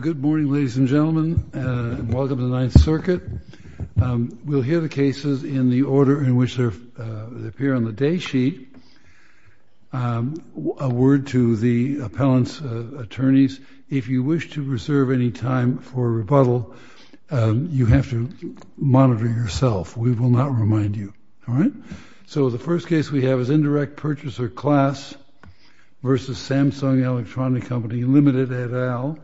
Good morning, ladies and gentlemen, and welcome to the Ninth Circuit. We'll hear the cases in the order in which they appear on the day sheet. A word to the appellant's attorneys. If you wish to reserve any time for rebuttal, you have to monitor yourself. We will not remind you. All right. So the first case we have is Indirect Purchaser Class v. Samsung Electronics Co. Ltd. at Al.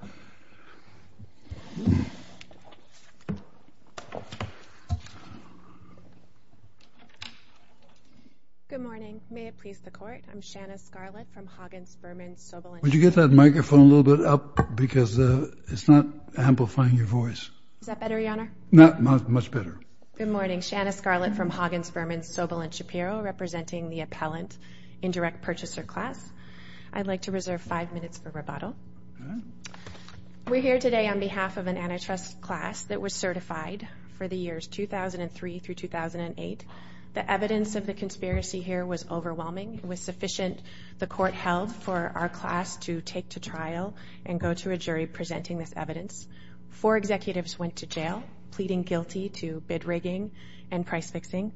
Good morning. May it please the Court. I'm Shanna Scarlett from Hoggins Furman. Would you get that microphone a little bit up? Because it's not amplifying your voice. Is that better, Your Honor? Much better. Good morning. Shanna Scarlett from Hoggins Furman, Sobel & Shapiro, representing the Appellant Indirect Purchaser Class. I'd like to reserve five minutes for rebuttal. We're here today on behalf of an antitrust class that was certified for the years 2003 through 2008. The evidence of the conspiracy here was overwhelming. It was sufficient, the Court held, for our class to take to trial and go to a jury presenting this evidence. Four executives went to jail, pleading guilty to bid rigging and price fixing.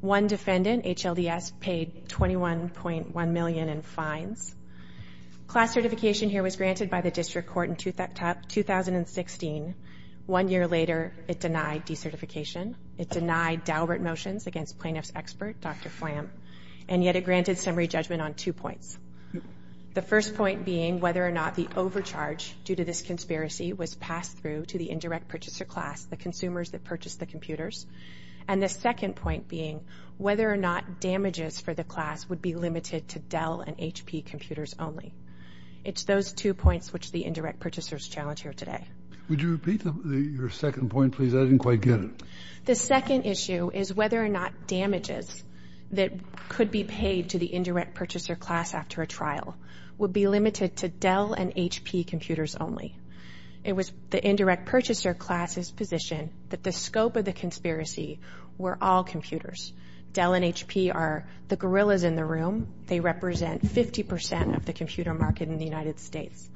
One defendant, HLDS, paid $21.1 million in fines. Class certification here was granted by the District Court in 2016. One year later, it denied decertification. It denied Daubert motions against plaintiff's expert, Dr. Flamm. And yet it granted summary judgment on two points. The first point being whether or not the overcharge due to this conspiracy was passed through to the indirect purchaser class, the consumers that purchased the computers. And the second point being whether or not damages for the class would be limited to Dell and HP computers only. It's those two points which the indirect purchasers challenge here today. Would you repeat your second point, please? I didn't quite get it. The second issue is whether or not damages that could be paid to the indirect purchaser class after a trial would be limited to Dell and HP computers only. It was the indirect purchaser class's position that the scope of the conspiracy were all computers. Dell and HP are the gorillas in the room. They represent 50 percent of the computer market in the United States.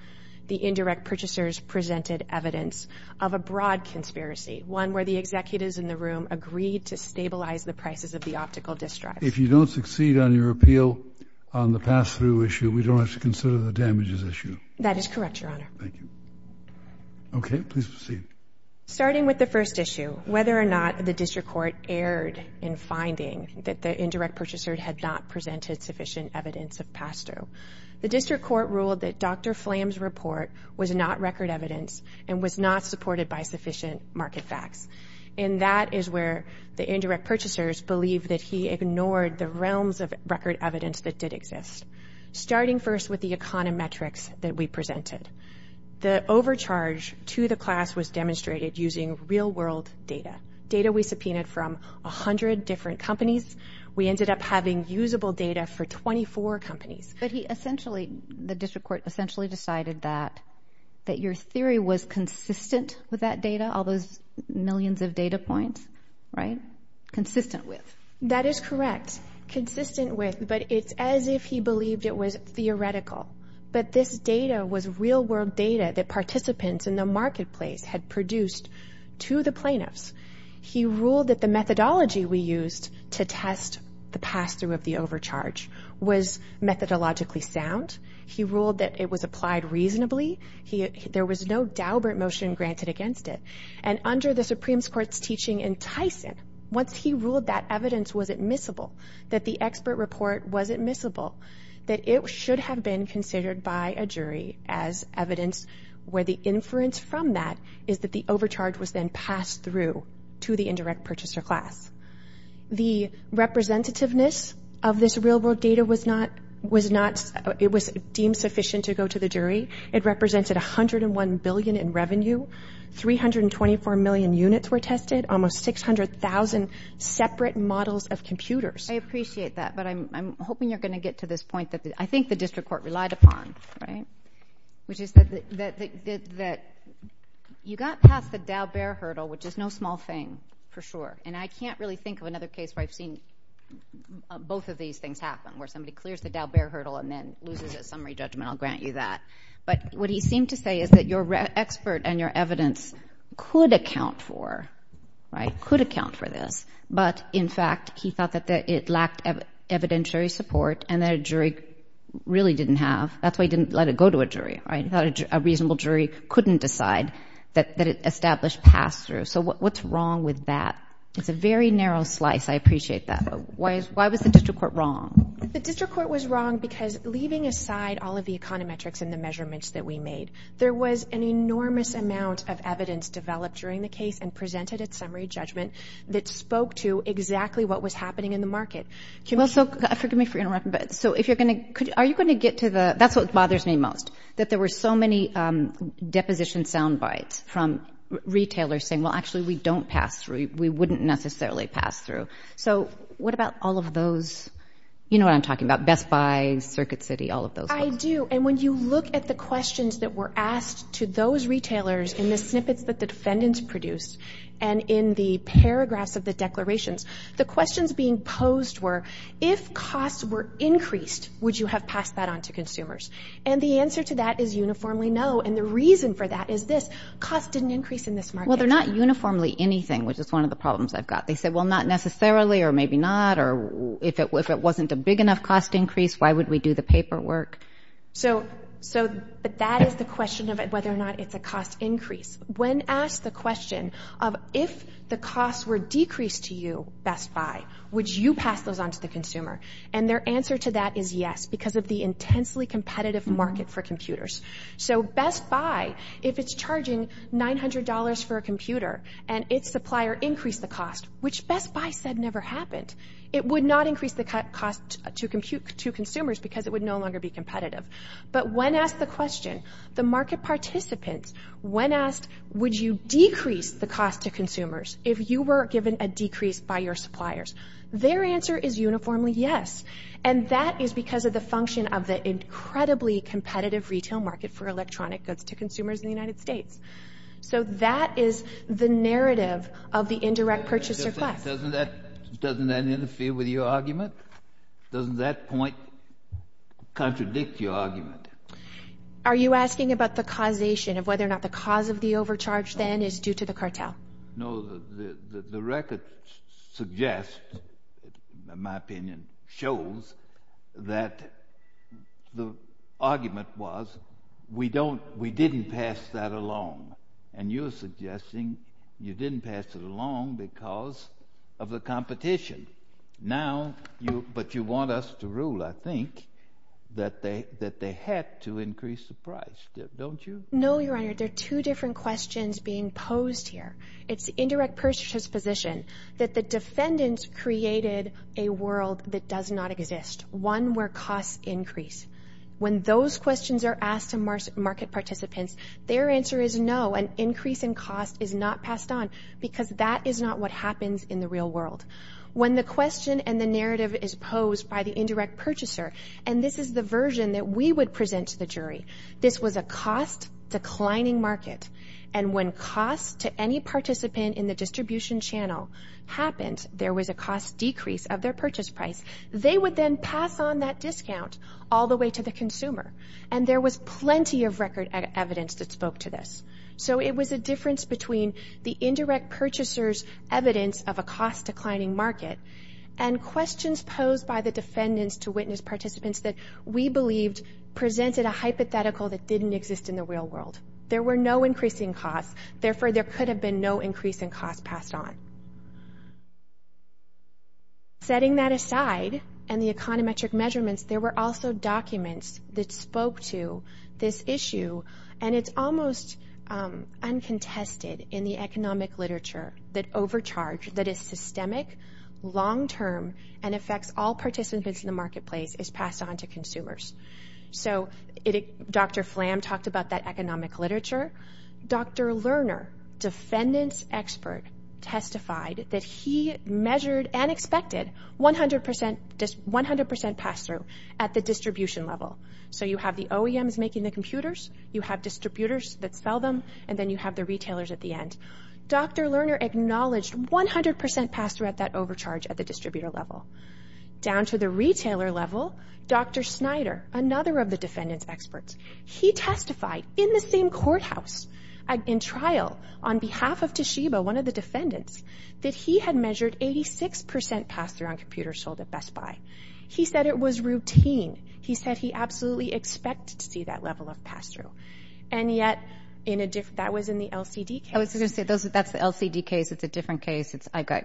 The indirect purchasers presented evidence of a broad conspiracy, one where the executives in the room agreed to stabilize the prices of the optical disk drives. If you don't succeed on your appeal on the pass-through issue, we don't have to consider the damages issue. That is correct, Your Honor. Thank you. Okay, please proceed. Starting with the first issue, whether or not the district court erred in finding that the indirect purchaser had not presented sufficient evidence of pass-through. The district court ruled that Dr. Flamm's report was not record evidence and was not supported by sufficient market facts. And that is where the indirect purchasers believe that he ignored the realms of record evidence that did exist. Starting first with the econometrics that we presented. The overcharge to the class was demonstrated using real-world data, data we subpoenaed from 100 different companies. We ended up having usable data for 24 companies. But he essentially, the district court essentially decided that your theory was consistent with that data, all those millions of data points, right? Consistent with? That is correct. Consistent with, but it's as if he believed it was theoretical. But this data was real-world data that participants in the marketplace had produced to the plaintiffs. He ruled that the methodology we used to test the pass-through of the overcharge was methodologically sound. He ruled that it was applied reasonably. There was no daubert motion granted against it. And under the Supreme Court's teaching in Tyson, once he ruled that evidence was admissible, that the expert report was admissible, that it should have been considered by a jury as evidence where the inference from that is that the overcharge was then passed through to the indirect purchaser class. The representativeness of this real-world data was deemed sufficient to go to the jury. It represented $101 billion in revenue. 324 million units were tested, almost 600,000 separate models of computers. I appreciate that, but I'm hoping you're going to get to this point that I think the district court relied upon, right? Which is that you got past the daubert hurdle, which is no small thing, for sure. And I can't really think of another case where I've seen both of these things happen, where somebody clears the daubert hurdle and then loses a summary judgment. I'll grant you that. But what he seemed to say is that your expert and your evidence could account for this. But, in fact, he thought that it lacked evidentiary support and that a jury really didn't have. A reasonable jury couldn't decide that it established pass-throughs. So what's wrong with that? It's a very narrow slice. I appreciate that. Why was the district court wrong? The district court was wrong because leaving aside all of the econometrics and the measurements that we made, there was an enormous amount of evidence developed during the case and presented at summary judgment that spoke to exactly what was happening in the market. Well, so forgive me for interrupting, but are you going to get to the – that's what bothers me most, that there were so many deposition soundbites from retailers saying, well, actually we don't pass through, we wouldn't necessarily pass through. So what about all of those? You know what I'm talking about, Best Buy, Circuit City, all of those folks. I do. And when you look at the questions that were asked to those retailers in the snippets that the defendants produced and in the paragraphs of the declarations, the questions being posed were, if costs were increased, would you have passed that on to consumers? And the answer to that is uniformly no. And the reason for that is this, costs didn't increase in this market. Well, they're not uniformly anything, which is one of the problems I've got. They said, well, not necessarily or maybe not, or if it wasn't a big enough cost increase, why would we do the paperwork? So that is the question of whether or not it's a cost increase. When asked the question of if the costs were decreased to you, Best Buy, would you pass those on to the consumer? And their answer to that is yes, because of the intensely competitive market for computers. So Best Buy, if it's charging $900 for a computer and its supplier increased the cost, which Best Buy said never happened, it would not increase the cost to consumers because it would no longer be competitive. But when asked the question, the market participants, when asked, would you decrease the cost to consumers if you were given a decrease by your suppliers? Their answer is uniformly yes. And that is because of the function of the incredibly competitive retail market for electronic goods to consumers in the United States. So that is the narrative of the indirect purchase request. Doesn't that interfere with your argument? Doesn't that point contradict your argument? Are you asking about the causation, of whether or not the cause of the overcharge then is due to the cartel? No, the record suggests, in my opinion, shows that the argument was we didn't pass that along. And you're suggesting you didn't pass it along because of the competition. But you want us to rule, I think, that they had to increase the price. Don't you? No, Your Honor. There are two different questions being posed here. It's indirect purchase position that the defendants created a world that does not exist, one where costs increase. When those questions are asked to market participants, their answer is no, an increase in cost is not passed on because that is not what happens in the real world. When the question and the narrative is posed by the indirect purchaser, and this is the version that we would present to the jury, this was a cost-declining market. And when cost to any participant in the distribution channel happened, there was a cost decrease of their purchase price. They would then pass on that discount all the way to the consumer. And there was plenty of record evidence that spoke to this. So it was a difference between the indirect purchaser's evidence of a cost-declining market and questions posed by the defendants to witness participants that we believed presented a hypothetical that didn't exist in the real world. There were no increasing costs. Therefore, there could have been no increase in cost passed on. Setting that aside and the econometric measurements, there were also documents that spoke to this issue. And it's almost uncontested in the economic literature that overcharge, that is systemic, long-term, and affects all participants in the marketplace, is passed on to consumers. So Dr. Flam talked about that economic literature. Dr. Lerner, defendant's expert, testified that he measured and expected 100% pass-through at the distribution level. So you have the OEMs making the computers, you have distributors that sell them, and then you have the retailers at the end. Dr. Lerner acknowledged 100% pass-through at that overcharge at the distributor level. Down to the retailer level, Dr. Snyder, another of the defendant's experts, he testified in the same courthouse, in trial, on behalf of Toshiba, one of the defendants, that he had measured 86% pass-through on computers sold at Best Buy. He said it was routine. He said he absolutely expected to see that level of pass-through. And yet that was in the LCD case. That's the LCD case. It's a different case. I've got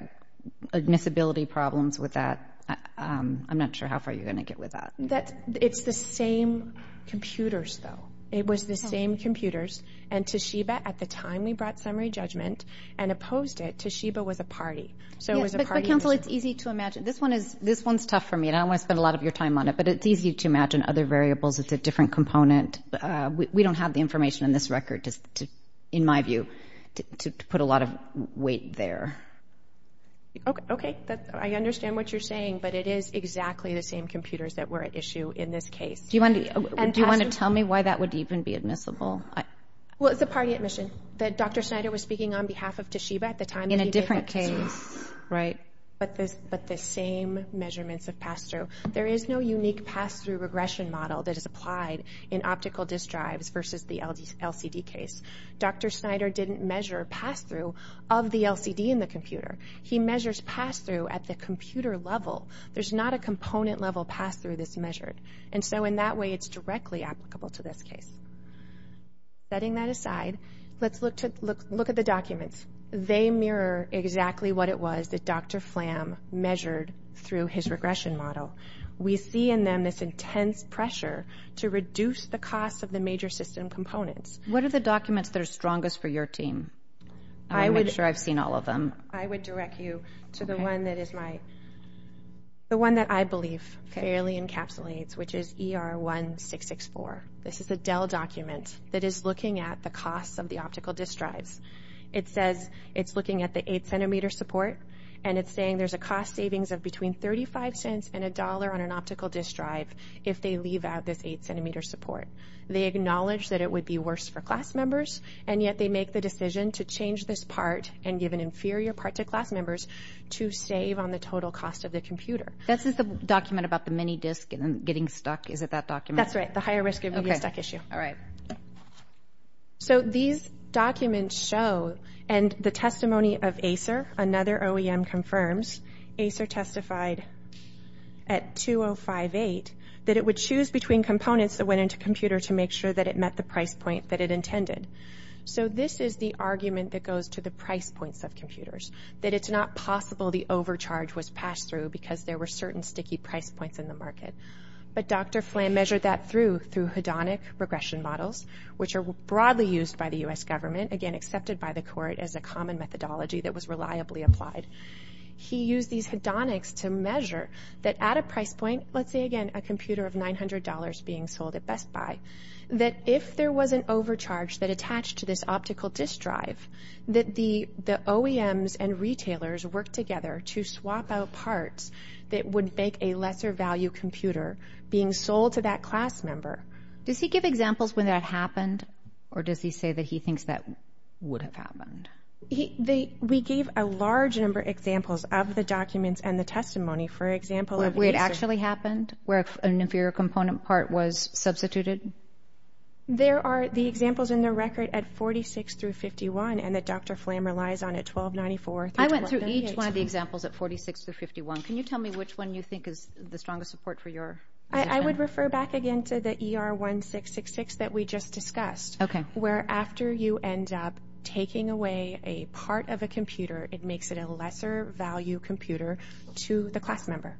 admissibility problems with that. I'm not sure how far you're going to get with that. It's the same computers, though. It was the same computers. And Toshiba, at the time we brought summary judgment and opposed it, Toshiba was a party. But, counsel, it's easy to imagine. This one is tough for me. I don't want to spend a lot of your time on it, but it's easy to imagine other variables. It's a different component. We don't have the information in this record, in my view, to put a lot of weight there. Okay. I understand what you're saying, but it is exactly the same computers that were at issue in this case. Do you want to tell me why that would even be admissible? Well, it's a party admission. Dr. Snyder was speaking on behalf of Toshiba at the time. In a different case. Right. But the same measurements of pass-through. There is no unique pass-through regression model that is applied in optical disk drives versus the LCD case. Dr. Snyder didn't measure pass-through of the LCD in the computer. He measures pass-through at the computer level. There's not a component level pass-through that's measured. And so, in that way, it's directly applicable to this case. Setting that aside, let's look at the documents. They mirror exactly what it was that Dr. Flam measured through his regression model. We see in them this intense pressure to reduce the cost of the major system components. What are the documents that are strongest for your team? I want to make sure I've seen all of them. I would direct you to the one that I believe fairly encapsulates, which is ER1664. This is a Dell document that is looking at the cost of the optical disk drives. It says it's looking at the 8-centimeter support, and it's saying there's a cost savings of between 35 cents and a dollar on an optical disk drive if they leave out this 8-centimeter support. They acknowledge that it would be worse for class members, and yet they make the decision to change this part and give an inferior part to class members to save on the total cost of the computer. This is the document about the mini disk getting stuck. Is it that document? That's right, the higher risk of getting stuck issue. All right. So these documents show, and the testimony of ACER, another OEM confirms, ACER testified at 2058 that it would choose between components that went into computer to make sure that it met the price point that it intended. So this is the argument that goes to the price points of computers, that it's not possible the overcharge was passed through because there were certain sticky price points in the market. But Dr. Flam measured that through hedonic regression models, which are broadly used by the U.S. government, again accepted by the court as a common methodology that was reliably applied. He used these hedonics to measure that at a price point, let's say again a computer of $900 being sold at Best Buy, that if there was an overcharge that attached to this optical disk drive, that the OEMs and retailers worked together to swap out parts that would make a lesser value computer being sold to that class member. Does he give examples when that happened? Or does he say that he thinks that would have happened? We gave a large number of examples of the documents and the testimony. For example, of ACER. Where it actually happened? Where an inferior component part was substituted? There are the examples in the record at 46 through 51, and that Dr. Flam relies on at 1294. I went through each one of the examples at 46 through 51. Can you tell me which one you think is the strongest support for your opinion? I would refer back again to the ER1666 that we just discussed. Okay. Where after you end up taking away a part of a computer, it makes it a lesser value computer to the class member.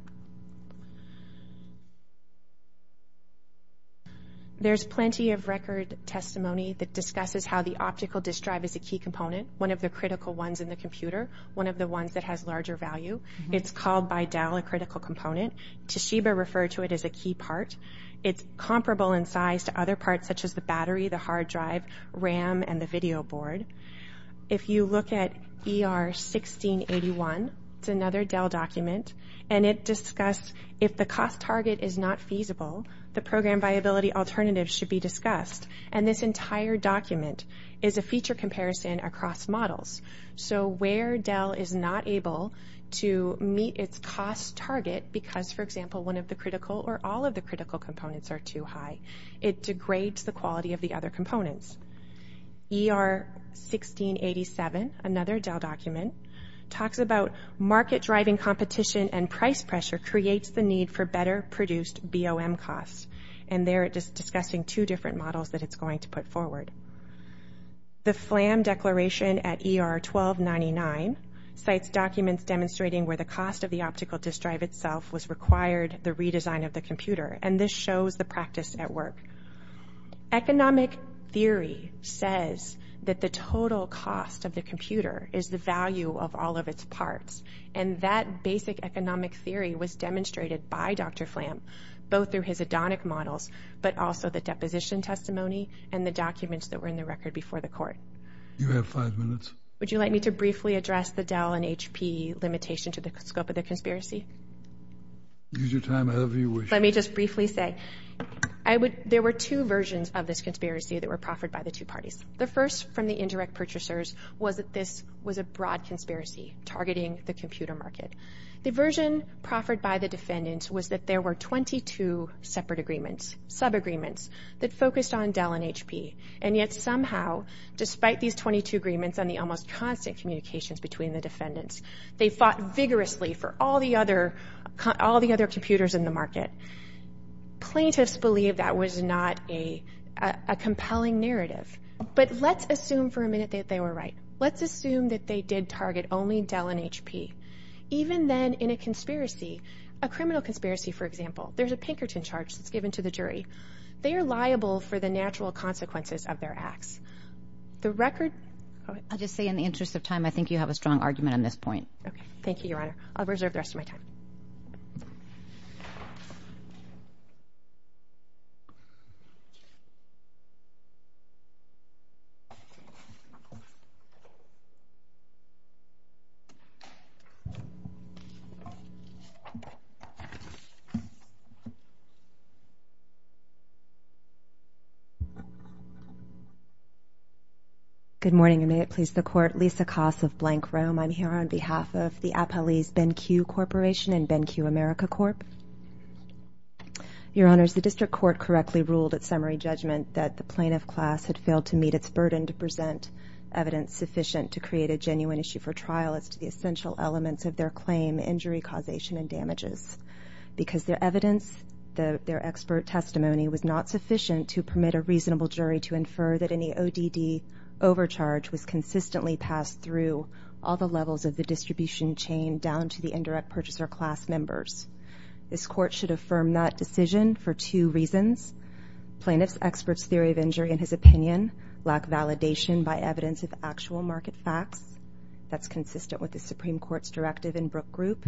There's plenty of record testimony that discusses how the optical disk drive is a key component, one of the critical ones in the computer, one of the ones that has larger value. It's called by Dell a critical component. Toshiba referred to it as a key part. It's comparable in size to other parts such as the battery, the hard drive, RAM, and the video board. If you look at ER1681, it's another Dell document, and it discussed if the cost target is not feasible, the program viability alternatives should be discussed. And this entire document is a feature comparison across models. So where Dell is not able to meet its cost target because, for example, one of the critical or all of the critical components are too high, it degrades the quality of the other components. ER1687, another Dell document, talks about market-driving competition and price pressure creates the need for better produced BOM costs. And they're discussing two different models that it's going to put forward. The Flam Declaration at ER1299 cites documents demonstrating where the cost of the optical disk drive itself was required the redesign of the computer, and this shows the practice at work. Economic theory says that the total cost of the computer is the value of all of its parts, and that basic economic theory was demonstrated by Dr. Flam, both through his Adonic models, but also the deposition testimony and the documents that were in the record before the court. You have five minutes. Would you like me to briefly address the Dell and HP limitation to the scope of the conspiracy? Use your time however you wish. Let me just briefly say, there were two versions of this conspiracy that were proffered by the two parties. The first from the indirect purchasers was that this was a broad conspiracy targeting the computer market. The version proffered by the defendants was that there were 22 separate agreements, sub-agreements, that focused on Dell and HP, and yet somehow, despite these 22 agreements and the almost constant communications between the defendants, they fought vigorously for all the other computers in the market. Plaintiffs believe that was not a compelling narrative, but let's assume for a minute that they were right. Let's assume that they did target only Dell and HP. Even then, in a conspiracy, a criminal conspiracy for example, there's a Pinkerton charge that's given to the jury. They are liable for the natural consequences of their acts. The record... I'll just say in the interest of time, I think you have a strong argument on this point. Thank you, Your Honor. I'll reserve the rest of my time. Good morning, and may it please the Court. Lisa Koss of Blank Rome. I'm here on behalf of the Appellees Ben-Q Corporation and Ben-Q America Corp. Your Honors, the District Court correctly ruled at summary judgment that the plaintiff class had failed to meet its burden to present evidence sufficient to create a genuine issue for trial as to the essential elements of their claim, injury, causation, and damages. Because their evidence is not sufficient, because their expert testimony was not sufficient to permit a reasonable jury to infer that any ODD overcharge was consistently passed through all the levels of the distribution chain down to the indirect purchaser class members. This Court should affirm that decision for two reasons. Plaintiff's expert's theory of injury in his opinion lack validation by evidence of actual market facts. That's consistent with the Supreme Court's directive in Brooke Group.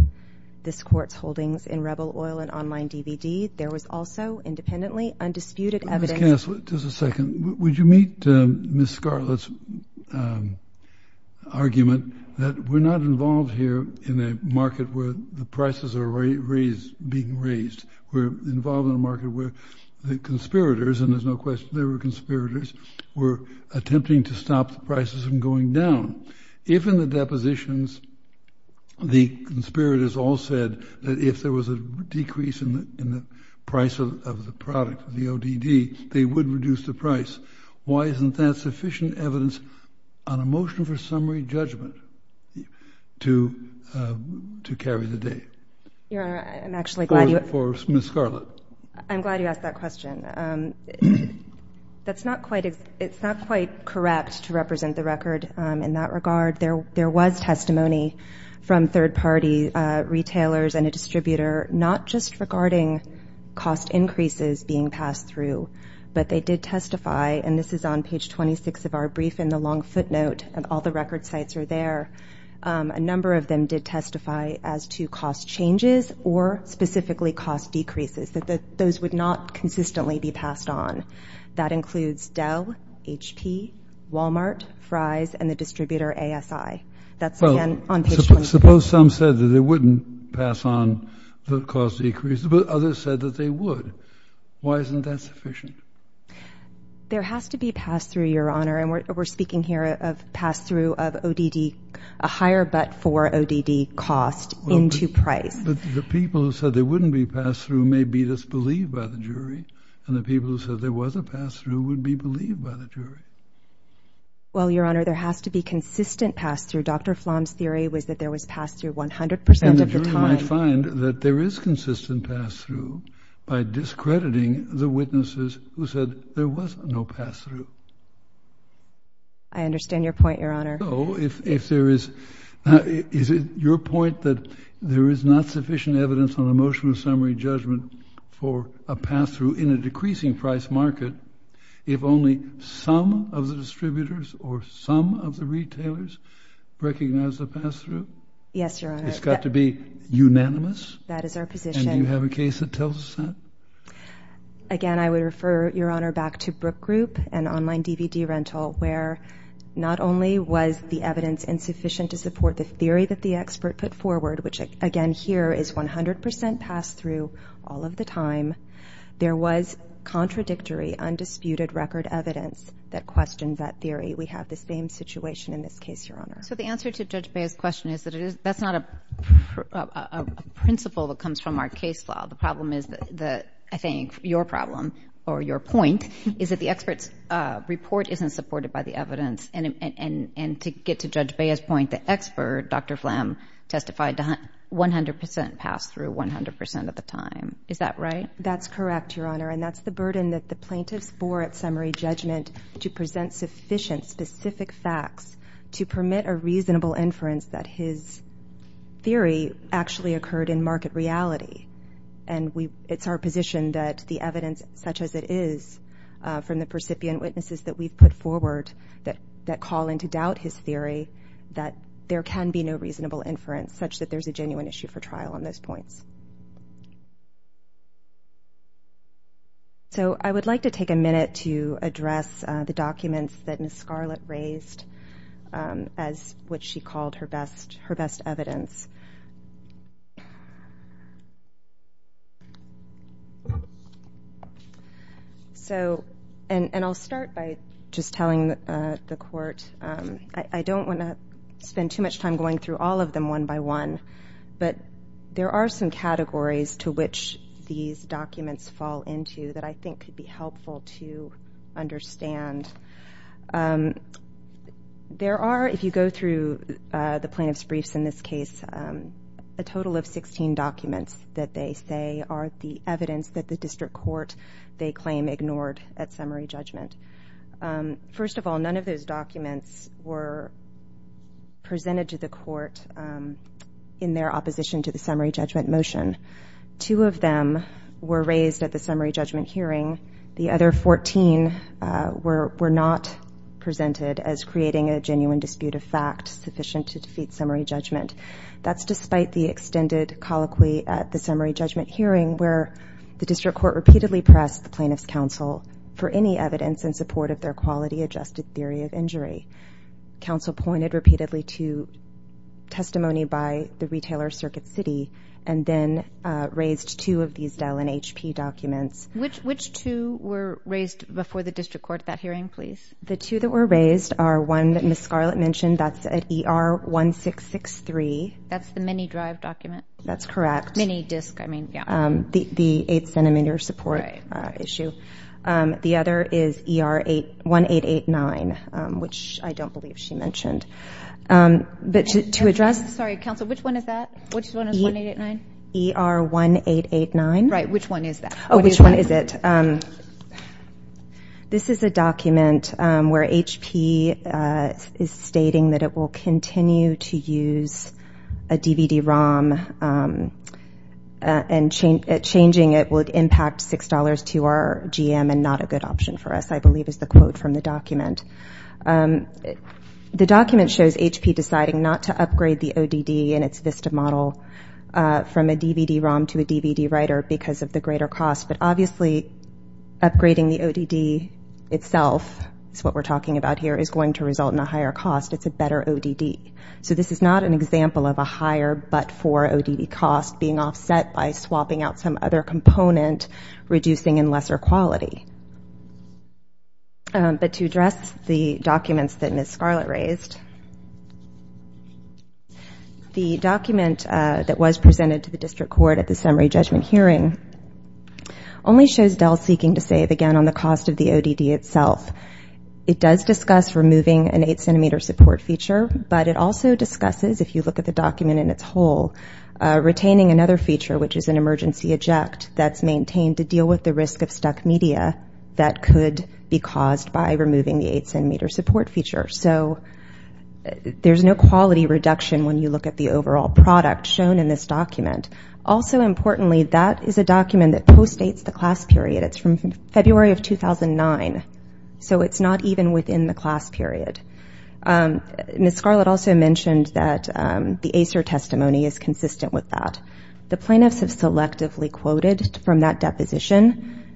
This Court's holdings in Rebel Oil and Online DVD. There was also independently undisputed evidence... Ms. Kass, just a second. Would you meet Ms. Scarlett's argument that we're not involved here in a market where the prices are being raised. We're involved in a market where the conspirators, and there's no question they were conspirators, were attempting to stop the prices from going down. If in the depositions the conspirators all said that if there was a decrease in the price of the product, the ODD, they would reduce the price, why isn't that sufficient evidence on a motion for summary judgment to carry the day? Your Honor, I'm actually glad you... Or is it for Ms. Scarlett? I'm glad you asked that question. It's not quite correct to represent the record in that regard. There was testimony from third-party retailers and a distributor, not just regarding cost increases being passed through, but they did testify, and this is on page 26 of our brief in the long footnote, and all the record sites are there. A number of them did testify as to cost changes or specifically cost decreases. Those would not consistently be passed on. That includes Dell, HP, Walmart, Fry's, and the distributor ASI. That's, again, on page 26. Suppose some said that they wouldn't pass on the cost decrease, but others said that they would. Why isn't that sufficient? There has to be pass-through, Your Honor, and we're speaking here of pass-through of ODD, a higher but-for ODD cost into price. The people who said there wouldn't be pass-through may be disbelieved by the jury, and the people who said there was a pass-through would be believed by the jury. Well, Your Honor, there has to be consistent pass-through. Dr. Flom's theory was that there was pass-through 100% of the time. And the jury might find that there is consistent pass-through by discrediting the witnesses who said there was no pass-through. I understand your point, Your Honor. So if there is... Is it your point that there is not sufficient evidence on a motion of summary judgment for a pass-through in a decreasing price market if only some of the distributors or some of the retailers recognize the pass-through? Yes, Your Honor. It's got to be unanimous? That is our position. And do you have a case that tells us that? Again, I would refer, Your Honor, back to Brook Group and Online DVD Rental, where not only was the evidence insufficient to support the theory that the expert put forward, which, again, here is 100% pass-through all of the time, there was contradictory, undisputed record evidence that questioned that theory. We have this same situation in this case, Your Honor. So the answer to Judge Bea's question is that it is... That's not a principle that comes from our case law. The problem is that... I think your problem, or your point, is that the expert's report isn't supported by the evidence. And to get to Judge Bea's point, the expert, Dr. Phlam, testified 100% pass-through 100% of the time. Is that right? That's correct, Your Honor. And that's the burden that the plaintiffs bore at summary judgment to present sufficient, specific facts to permit a reasonable inference that his theory actually occurred in market reality. And it's our position that the evidence, such as it is, from the percipient witnesses that we've put forward that call into doubt his theory, that there can be no reasonable inference such that there's a genuine issue for trial on those points. So I would like to take a minute to address the documents that Ms. Scarlett raised as what she called her best evidence. And I'll start by just telling the court that I don't want to spend too much time going through all of them one by one, but there are some categories to which these documents fall into that I think could be helpful to understand. There are, if you go through the plaintiff's briefs in this case, a total of 16 documents that they say are the evidence that the district court, they claim, ignored at summary judgment. First of all, none of those documents were presented to the court in their opposition to the summary judgment motion. Two of them were raised at the summary judgment hearing. The other 14 were not presented as creating a genuine dispute of fact sufficient to defeat summary judgment. That's despite the extended colloquy at the summary judgment hearing where the district court repeatedly pressed the plaintiff's counsel for any evidence in support of their quality-adjusted theory of injury. Counsel pointed repeatedly to testimony by the retailer, Circuit City, and then raised two of these Dell and HP documents. Which two were raised before the district court at that hearing, please? The two that were raised are one that Ms. Scarlett mentioned. That's at ER-1663. That's the mini-drive document? That's correct. Mini-disc, I mean, yeah. The 8-centimeter support issue. The other is ER-1889, which I don't believe she mentioned. But to address ER-1889. Right, which one is that? Oh, which one is it? This is a document where HP is stating that it will continue to use a DVD-ROM and changing it would impact $6 to our GM and not a good option for us, I believe is the quote from the document. The document shows HP deciding not to upgrade the ODD in its VISTA model from a DVD-ROM to a DVD-writer because of the greater cost. But obviously upgrading the ODD itself is what we're talking about here, is going to result in a higher cost. It's a better ODD. So this is not an example of a higher but for ODD cost being offset by swapping out some other component, reducing in lesser quality. But to address the documents that Ms. Scarlett raised, the document that was presented to the district court at the summary judgment hearing only shows Dell seeking to save again on the cost of the ODD itself. It does discuss removing an 8-centimeter support feature, but it also discusses, if you look at the document in its whole, retaining another feature, which is an emergency eject, that's maintained to deal with the risk of stuck media that could be caused by removing the 8-centimeter support feature. So there's no quality reduction when you look at the overall product shown in this document. Also importantly, that is a document that postdates the class period. It's from February of 2009. So it's not even within the class period. Ms. Scarlett also mentioned that the ACER testimony is consistent with that. The plaintiffs have selectively quoted from that deposition.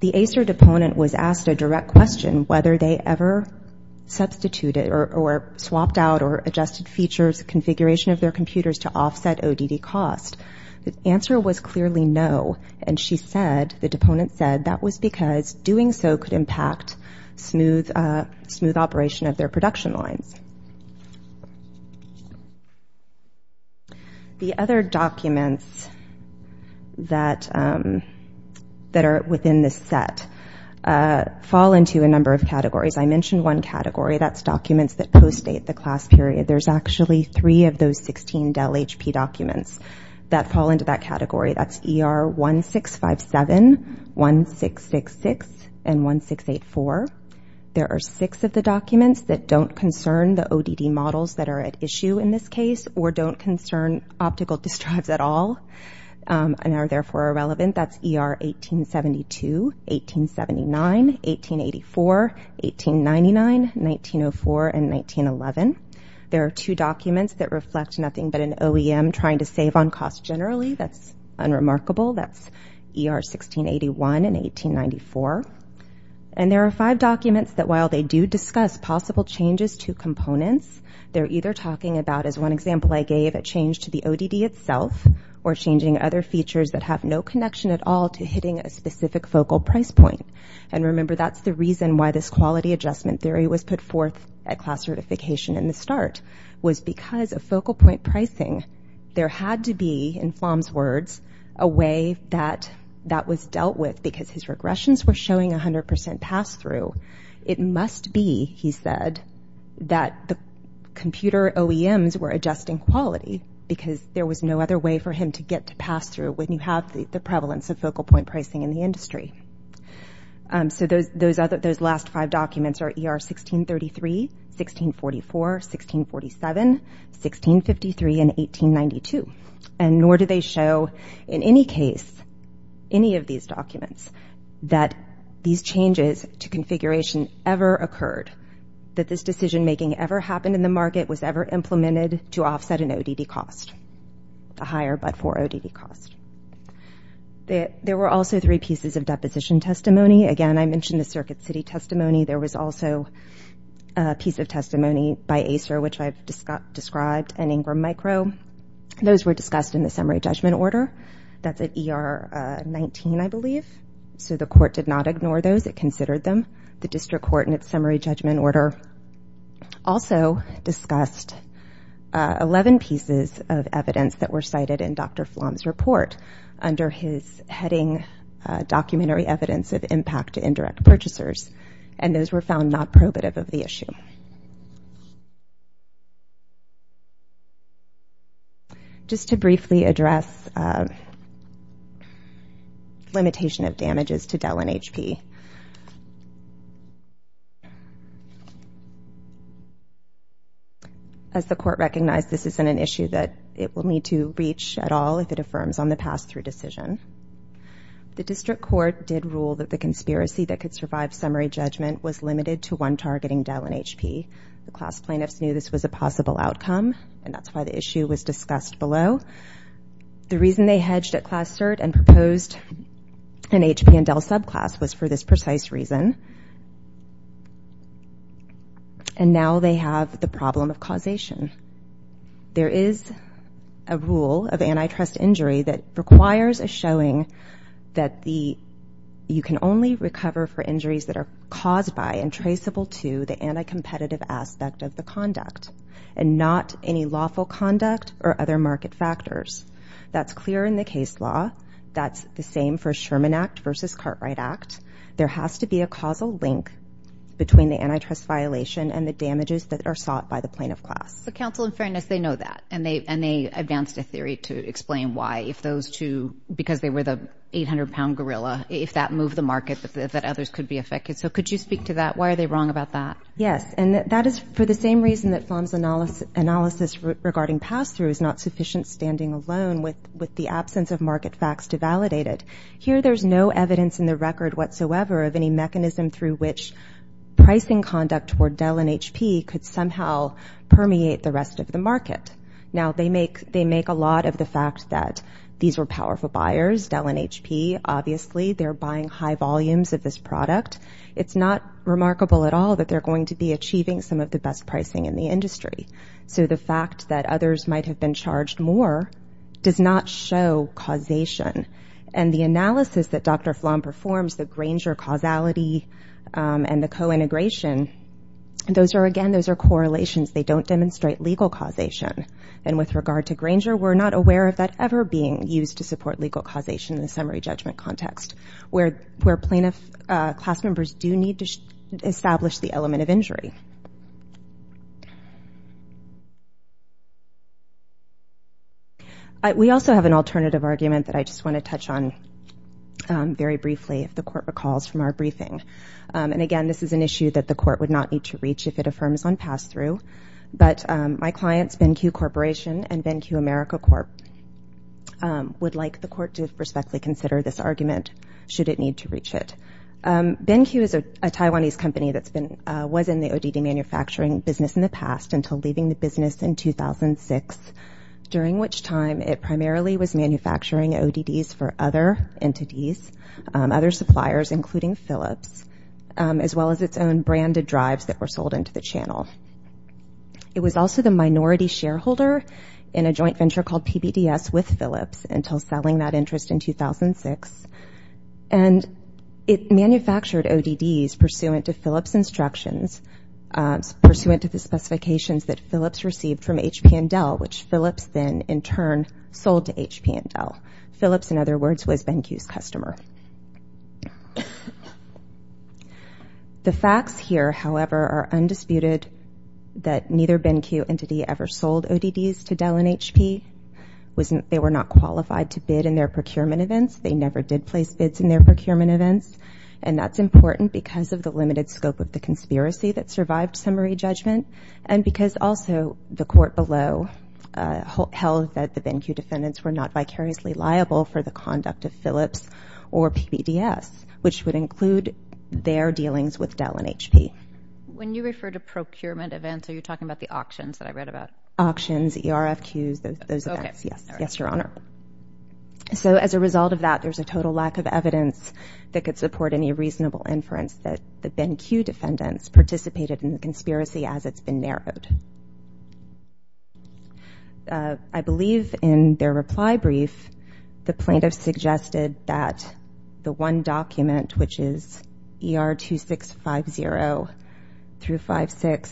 The ACER deponent was asked a direct question, whether they ever substituted or swapped out or adjusted features, configuration of their computers to offset ODD cost. The answer was clearly no. And she said, the deponent said, that was because doing so could impact smooth operation of their production lines. The other documents that are within this set fall into a number of categories. I mentioned one category. That's documents that postdate the class period. There's actually three of those 16 Dell HP documents that fall into that category. That's ER 1657, 1666, and 1684. There are six of the documents that don't concern the ODD models that are at issue in this case or don't concern optical disk drives at all and are therefore irrelevant. That's ER 1872, 1879, 1884, 1899, 1904, and 1911. There are two documents that reflect nothing but an OEM trying to save on cost generally. That's unremarkable. That's ER 1681 and 1894. And there are five documents that while they do discuss possible changes to components, they're either talking about, as one example I gave, a change to the ODD itself or changing other features that have no connection at all to hitting a specific focal price point. And remember, that's the reason why this quality adjustment theory was put forth at class certification in the start was because of focal point pricing. There had to be, in Flom's words, a way that that was dealt with because his regressions were showing 100% pass-through. It must be, he said, that the computer OEMs were adjusting quality because there was no other way for him to get to pass-through when you have the prevalence of focal point pricing in the industry. So those last five documents are ER 1633, 1644, 1647, 1653, and 1892. And nor do they show in any case, any of these documents, that these changes to configuration ever occurred, that this decision-making ever happened in the market, was ever implemented to offset an ODD cost, a higher but for ODD cost. There were also three pieces of deposition testimony. Again, I mentioned the Circuit City testimony. There was also a piece of testimony by ACER, which I've described, and Ingram Micro. Those were discussed in the summary judgment order. That's at ER 19, I believe. So the court did not ignore those. It considered them. The district court, in its summary judgment order, also discussed 11 pieces of evidence that were cited in Dr. Flom's report under his heading, Documentary Evidence of Impact to Indirect Purchasers. And those were found not probative of the issue. Just to briefly address limitation of damages to Dell and HP. As the court recognized, this isn't an issue that it will need to reach at all if it affirms on the pass-through decision. The district court did rule that the conspiracy that could survive summary judgment was limited to one targeting Dell and HP. The class plaintiffs knew this was a possible outcome, and that's why the issue was discussed below. The reason they hedged at Class Cert and proposed an HP and Dell subclass was for this precise reason. And now they have the problem of causation. There is a rule of antitrust injury that requires a showing that you can only recover for injuries that are caused by and traceable to the anti-competitive aspect of the conduct and not any lawful conduct or other market factors. That's clear in the case law. That's the same for Sherman Act versus Cartwright Act. There has to be a causal link between the antitrust violation and the damages that are sought by the plaintiff class. But counsel, in fairness, they know that, and they announced a theory to explain why if those two, because they were the 800-pound gorilla, if that moved the market that others could be affected. So could you speak to that? Why are they wrong about that? Yes, and that is for the same reason that Pham's analysis regarding pass-through is not sufficient standing alone with the absence of market facts to validate it. Here there's no evidence in the record whatsoever of any mechanism through which pricing conduct toward Dell and HP could somehow permeate the rest of the market. Now, they make a lot of the fact that these were powerful buyers, Dell and HP, obviously they're buying high volumes of this product. It's not remarkable at all that they're going to be achieving some of the best pricing in the industry. So the fact that others might have been charged more does not show causation and the analysis that Dr. Pham performs, the Granger causality and the co-integration, those are, again, those are correlations. They don't demonstrate legal causation. And with regard to Granger, we're not aware of that ever being used to support legal causation in the summary judgment context where plaintiff class members do need to establish the element of injury. We also have an alternative argument that I just want to touch on very briefly if the court recalls from our briefing. And, again, this is an issue that the court would not need to reach if it affirms on pass-through. But my clients, BenQ Corporation and BenQ America Corp., would like the court to respectfully consider this argument should it need to reach it. BenQ is a Taiwanese company that's been, was in the ODC for a number of years. It was an ODD manufacturing business in the past until leaving the business in 2006, during which time it primarily was manufacturing ODDs for other entities, other suppliers, including Philips, as well as its own branded drives that were sold into the channel. It was also the minority shareholder in a joint venture called PBDS with Philips until selling that interest in 2006. And it manufactured ODDs pursuant to Philips instructions, pursuant to the specifications that Philips received from HP and Dell, which Philips then, in turn, sold to HP and Dell. Philips, in other words, was BenQ's customer. The facts here, however, are undisputed that neither BenQ entity ever sold ODDs to Dell and HP. They were not qualified to bid in their procurement events. They never did place bids in their procurement events, and that's important because of the limited scope of the conspiracy that survived summary judgment and because also the court below held that the BenQ defendants were not vicariously liable for the conduct of Philips or PBDS, which would include their dealings with Dell and HP. When you refer to procurement events, are you talking about the auctions that I read about? Auctions, ERFQs, those events. Yes, Your Honor. So as a result of that, there's a total lack of evidence that could support any reasonable inference that the BenQ defendants participated in the conspiracy as it's been narrowed. I believe in their reply brief, the plaintiffs suggested that the one document, which is ER2650-56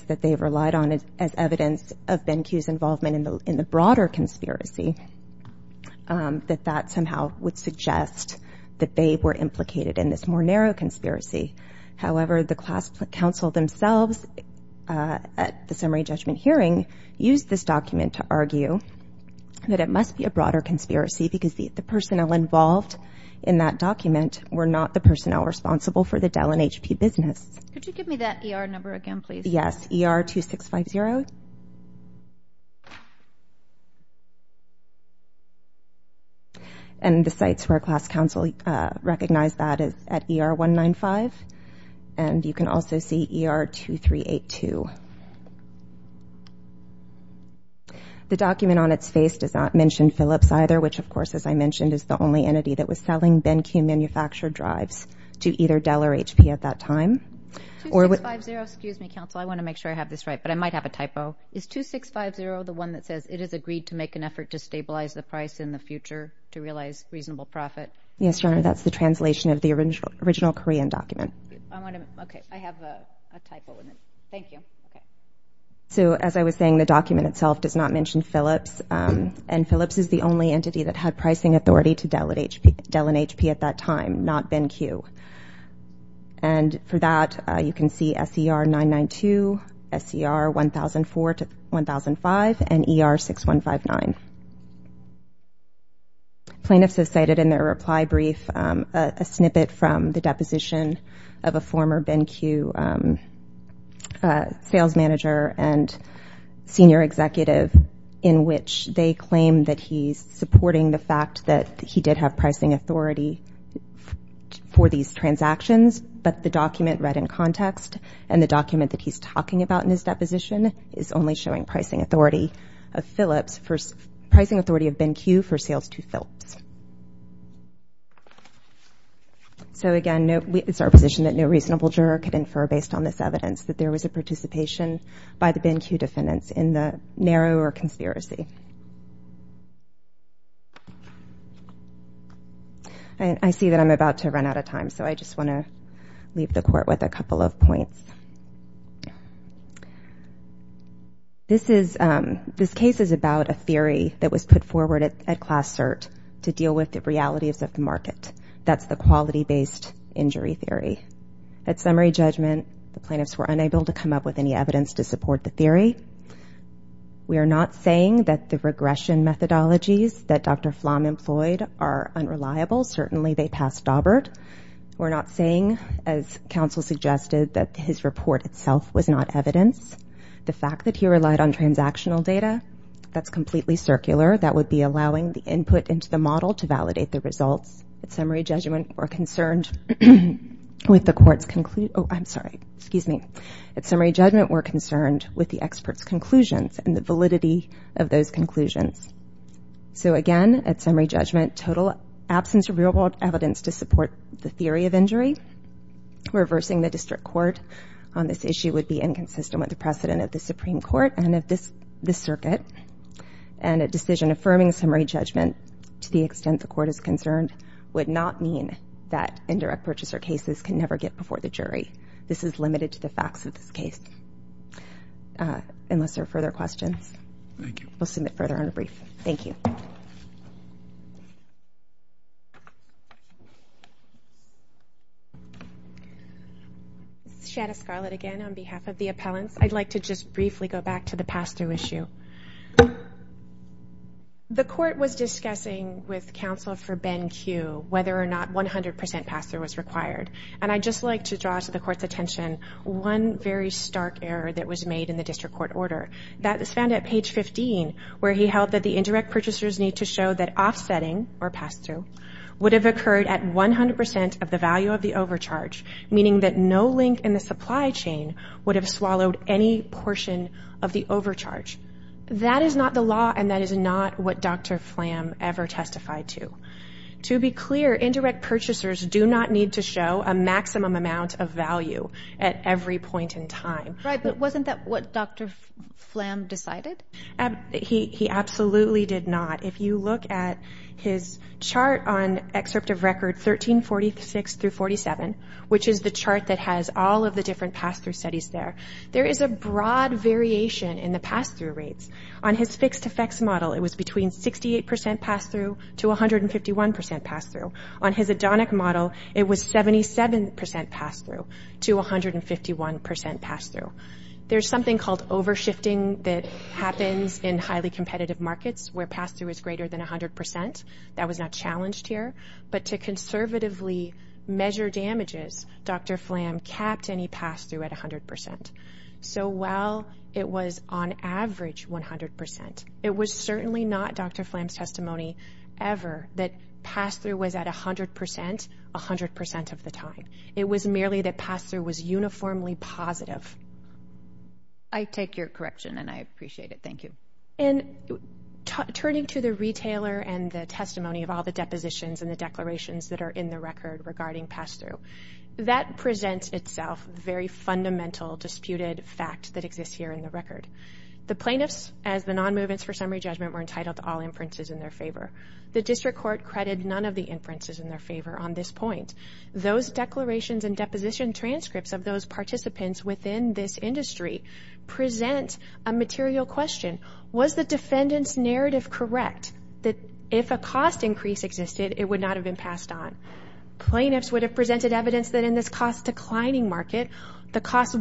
that they relied on as evidence of BenQ's involvement in the broader conspiracy, that that somehow would suggest that they were implicated in this more narrow conspiracy. However, the class counsel themselves at the summary judgment hearing used this document to argue that it must be a broader conspiracy because the personnel involved in that document were not the personnel responsible for the Dell and HP business. Could you give me that ER number again, please? Yes, ER2650. And the sites where class counsel recognized that is at ER195, and you can also see ER2382. The document on its face does not mention Philips either, which, of course, as I mentioned, is the only entity that was selling BenQ manufactured drives to either Dell or HP at that time. 2650, excuse me, counsel, I want to make sure I have this right, but I might have a typo. Is 2650 the one that says it has agreed to make an effort to stabilize the price in the future to realize reasonable profit? Yes, Your Honor, that's the translation of the original Korean document. Okay, I have a typo in it. Thank you. So as I was saying, the document itself does not mention Philips, and Philips is the only entity that had pricing authority to Dell and HP at that time, not BenQ. And for that, you can see SER992, SER1004 to 1005, and ER6159. Plaintiffs have cited in their reply brief a snippet from the deposition of a former BenQ sales manager and senior executive in which they claim that he's supporting the fact that he did have pricing authority for these transactions, but the document read in context and the document that he's talking about in his deposition is only showing pricing authority of Philips, pricing authority of BenQ for sales to Philips. So again, it's our position that no reasonable juror could infer based on this evidence that there was a participation by the BenQ defendants in the narrower conspiracy. I see that I'm about to run out of time, so I just want to leave the Court with a couple of points. This case is about a theory that was put forward at Class Cert to deal with the realities of the market. That's the quality-based injury theory. At summary judgment, the plaintiffs were unable to come up with any evidence to support the theory. We are not saying that the regression methodologies that Dr. Flom employed are unreliable. Certainly, they passed Daubert. We're not saying, as counsel suggested, that his report itself was not evidence. The fact that he relied on transactional data, that's completely circular. That would be allowing the input into the model to validate the results. At summary judgment, we're concerned with the expert's conclusions and the validity of those conclusions. So again, at summary judgment, total absence of real-world evidence to support the theory of injury. Reversing the District Court on this issue would be inconsistent with the precedent of the Supreme Court and of the Circuit. And a decision affirming summary judgment, to the extent the Court is concerned, would not mean that indirect purchaser cases can never get before the jury. This is limited to the facts of this case. Unless there are further questions, we'll submit further on a brief. Thank you. This is Shanna Scarlett again, on behalf of the appellants. I'd like to just briefly go back to the pass-through issue. The Court was discussing with counsel for Ben Q whether or not 100% pass-through was required. And I'd just like to draw to the Court's attention one very stark error that was made in the District Court order. That was found at page 15, where he held that the indirect purchasers need to show that offsetting, or pass-through, would have occurred at 100% of the value of the overcharge, meaning that no link in the supply chain would have swallowed any portion of the overcharge. That is not the law, and that is not what Dr. Flam ever testified to. To be clear, indirect purchasers do not need to show a maximum amount of value at every point in time. Right, but wasn't that what Dr. Flam decided? He absolutely did not. If you look at his chart on excerpt of record 1346-47, which is the chart that has all of the different pass-through studies there, there is a broad variation in the pass-through rates. On his fixed effects model, it was between 68% pass-through to 151% pass-through. On his Adonic model, it was 77% pass-through to 151% pass-through. There's something called overshifting that happens in highly competitive markets, where pass-through is greater than 100%. That was not challenged here. But to conservatively measure damages, Dr. Flam capped any pass-through at 100%. So while it was on average 100%, it was certainly not Dr. Flam's testimony ever that pass-through was at 100% 100% of the time. It was merely that pass-through was uniformly positive. I take your correction, and I appreciate it. Thank you. And turning to the retailer and the testimony of all the depositions and the declarations that are in the record regarding pass-through, that presents itself a very fundamental disputed fact that exists here in the record. The plaintiffs, as the non-movements for summary judgment, were entitled to all inferences in their favor. The district court credited none of the inferences in their favor on this point. Those declarations and deposition transcripts of those participants within this industry present a material question. Was the defendant's narrative correct that if a cost increase existed, it would not have been passed on? Plaintiffs would have presented evidence that in this cost-declining market, the cost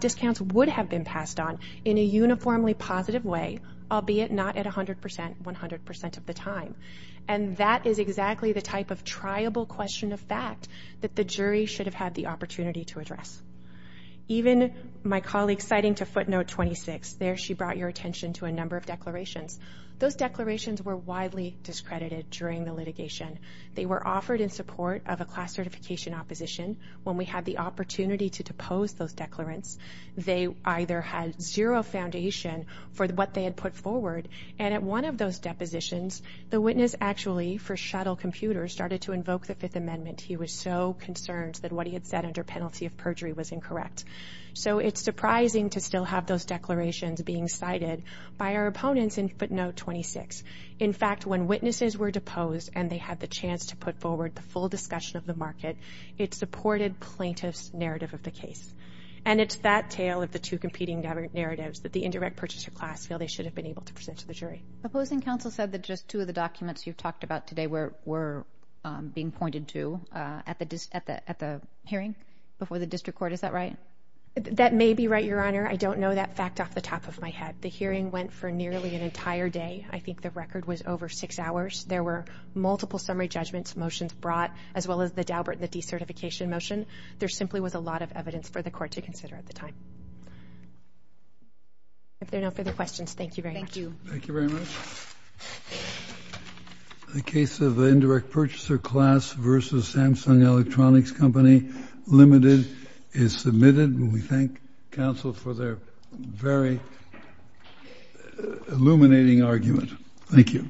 discounts would have been passed on in a uniformly positive way, albeit not at 100% 100% of the time. And that is exactly the type of triable question of fact that the jury should have had the opportunity to address. Even my colleague citing to footnote 26, there she brought your attention to a number of declarations. Those declarations were widely discredited during the litigation. They were offered in support of a class certification opposition. When we had the opportunity to depose those declarants, they either had zero foundation for what they had put forward. And at one of those depositions, the witness actually, for shuttle computers, started to invoke the Fifth Amendment. He was so concerned that what he had said under penalty of perjury was incorrect. So it's surprising to still have those declarations being cited by our opponents in footnote 26. In fact, when witnesses were deposed and they had the chance to put forward the full discussion of the market, it supported plaintiffs' narrative of the case. And it's that tale of the two competing narratives that the indirect purchaser class feel they should have been able to present to the jury. Opposing counsel said that just two of the documents you've talked about today were being pointed to at the hearing before the district court. Is that right? That may be right, Your Honor. I don't know that fact off the top of my head. The hearing went for nearly an entire day. I think the record was over six hours. There were multiple summary judgments, motions brought, as well as the Daubert and the decertification motion. There simply was a lot of evidence for the court to consider at the time. If there are no further questions, thank you very much. Thank you. Thank you very much. The case of the indirect purchaser class versus Samsung Electronics Company Limited is submitted. We thank counsel for their very illuminating argument. Thank you.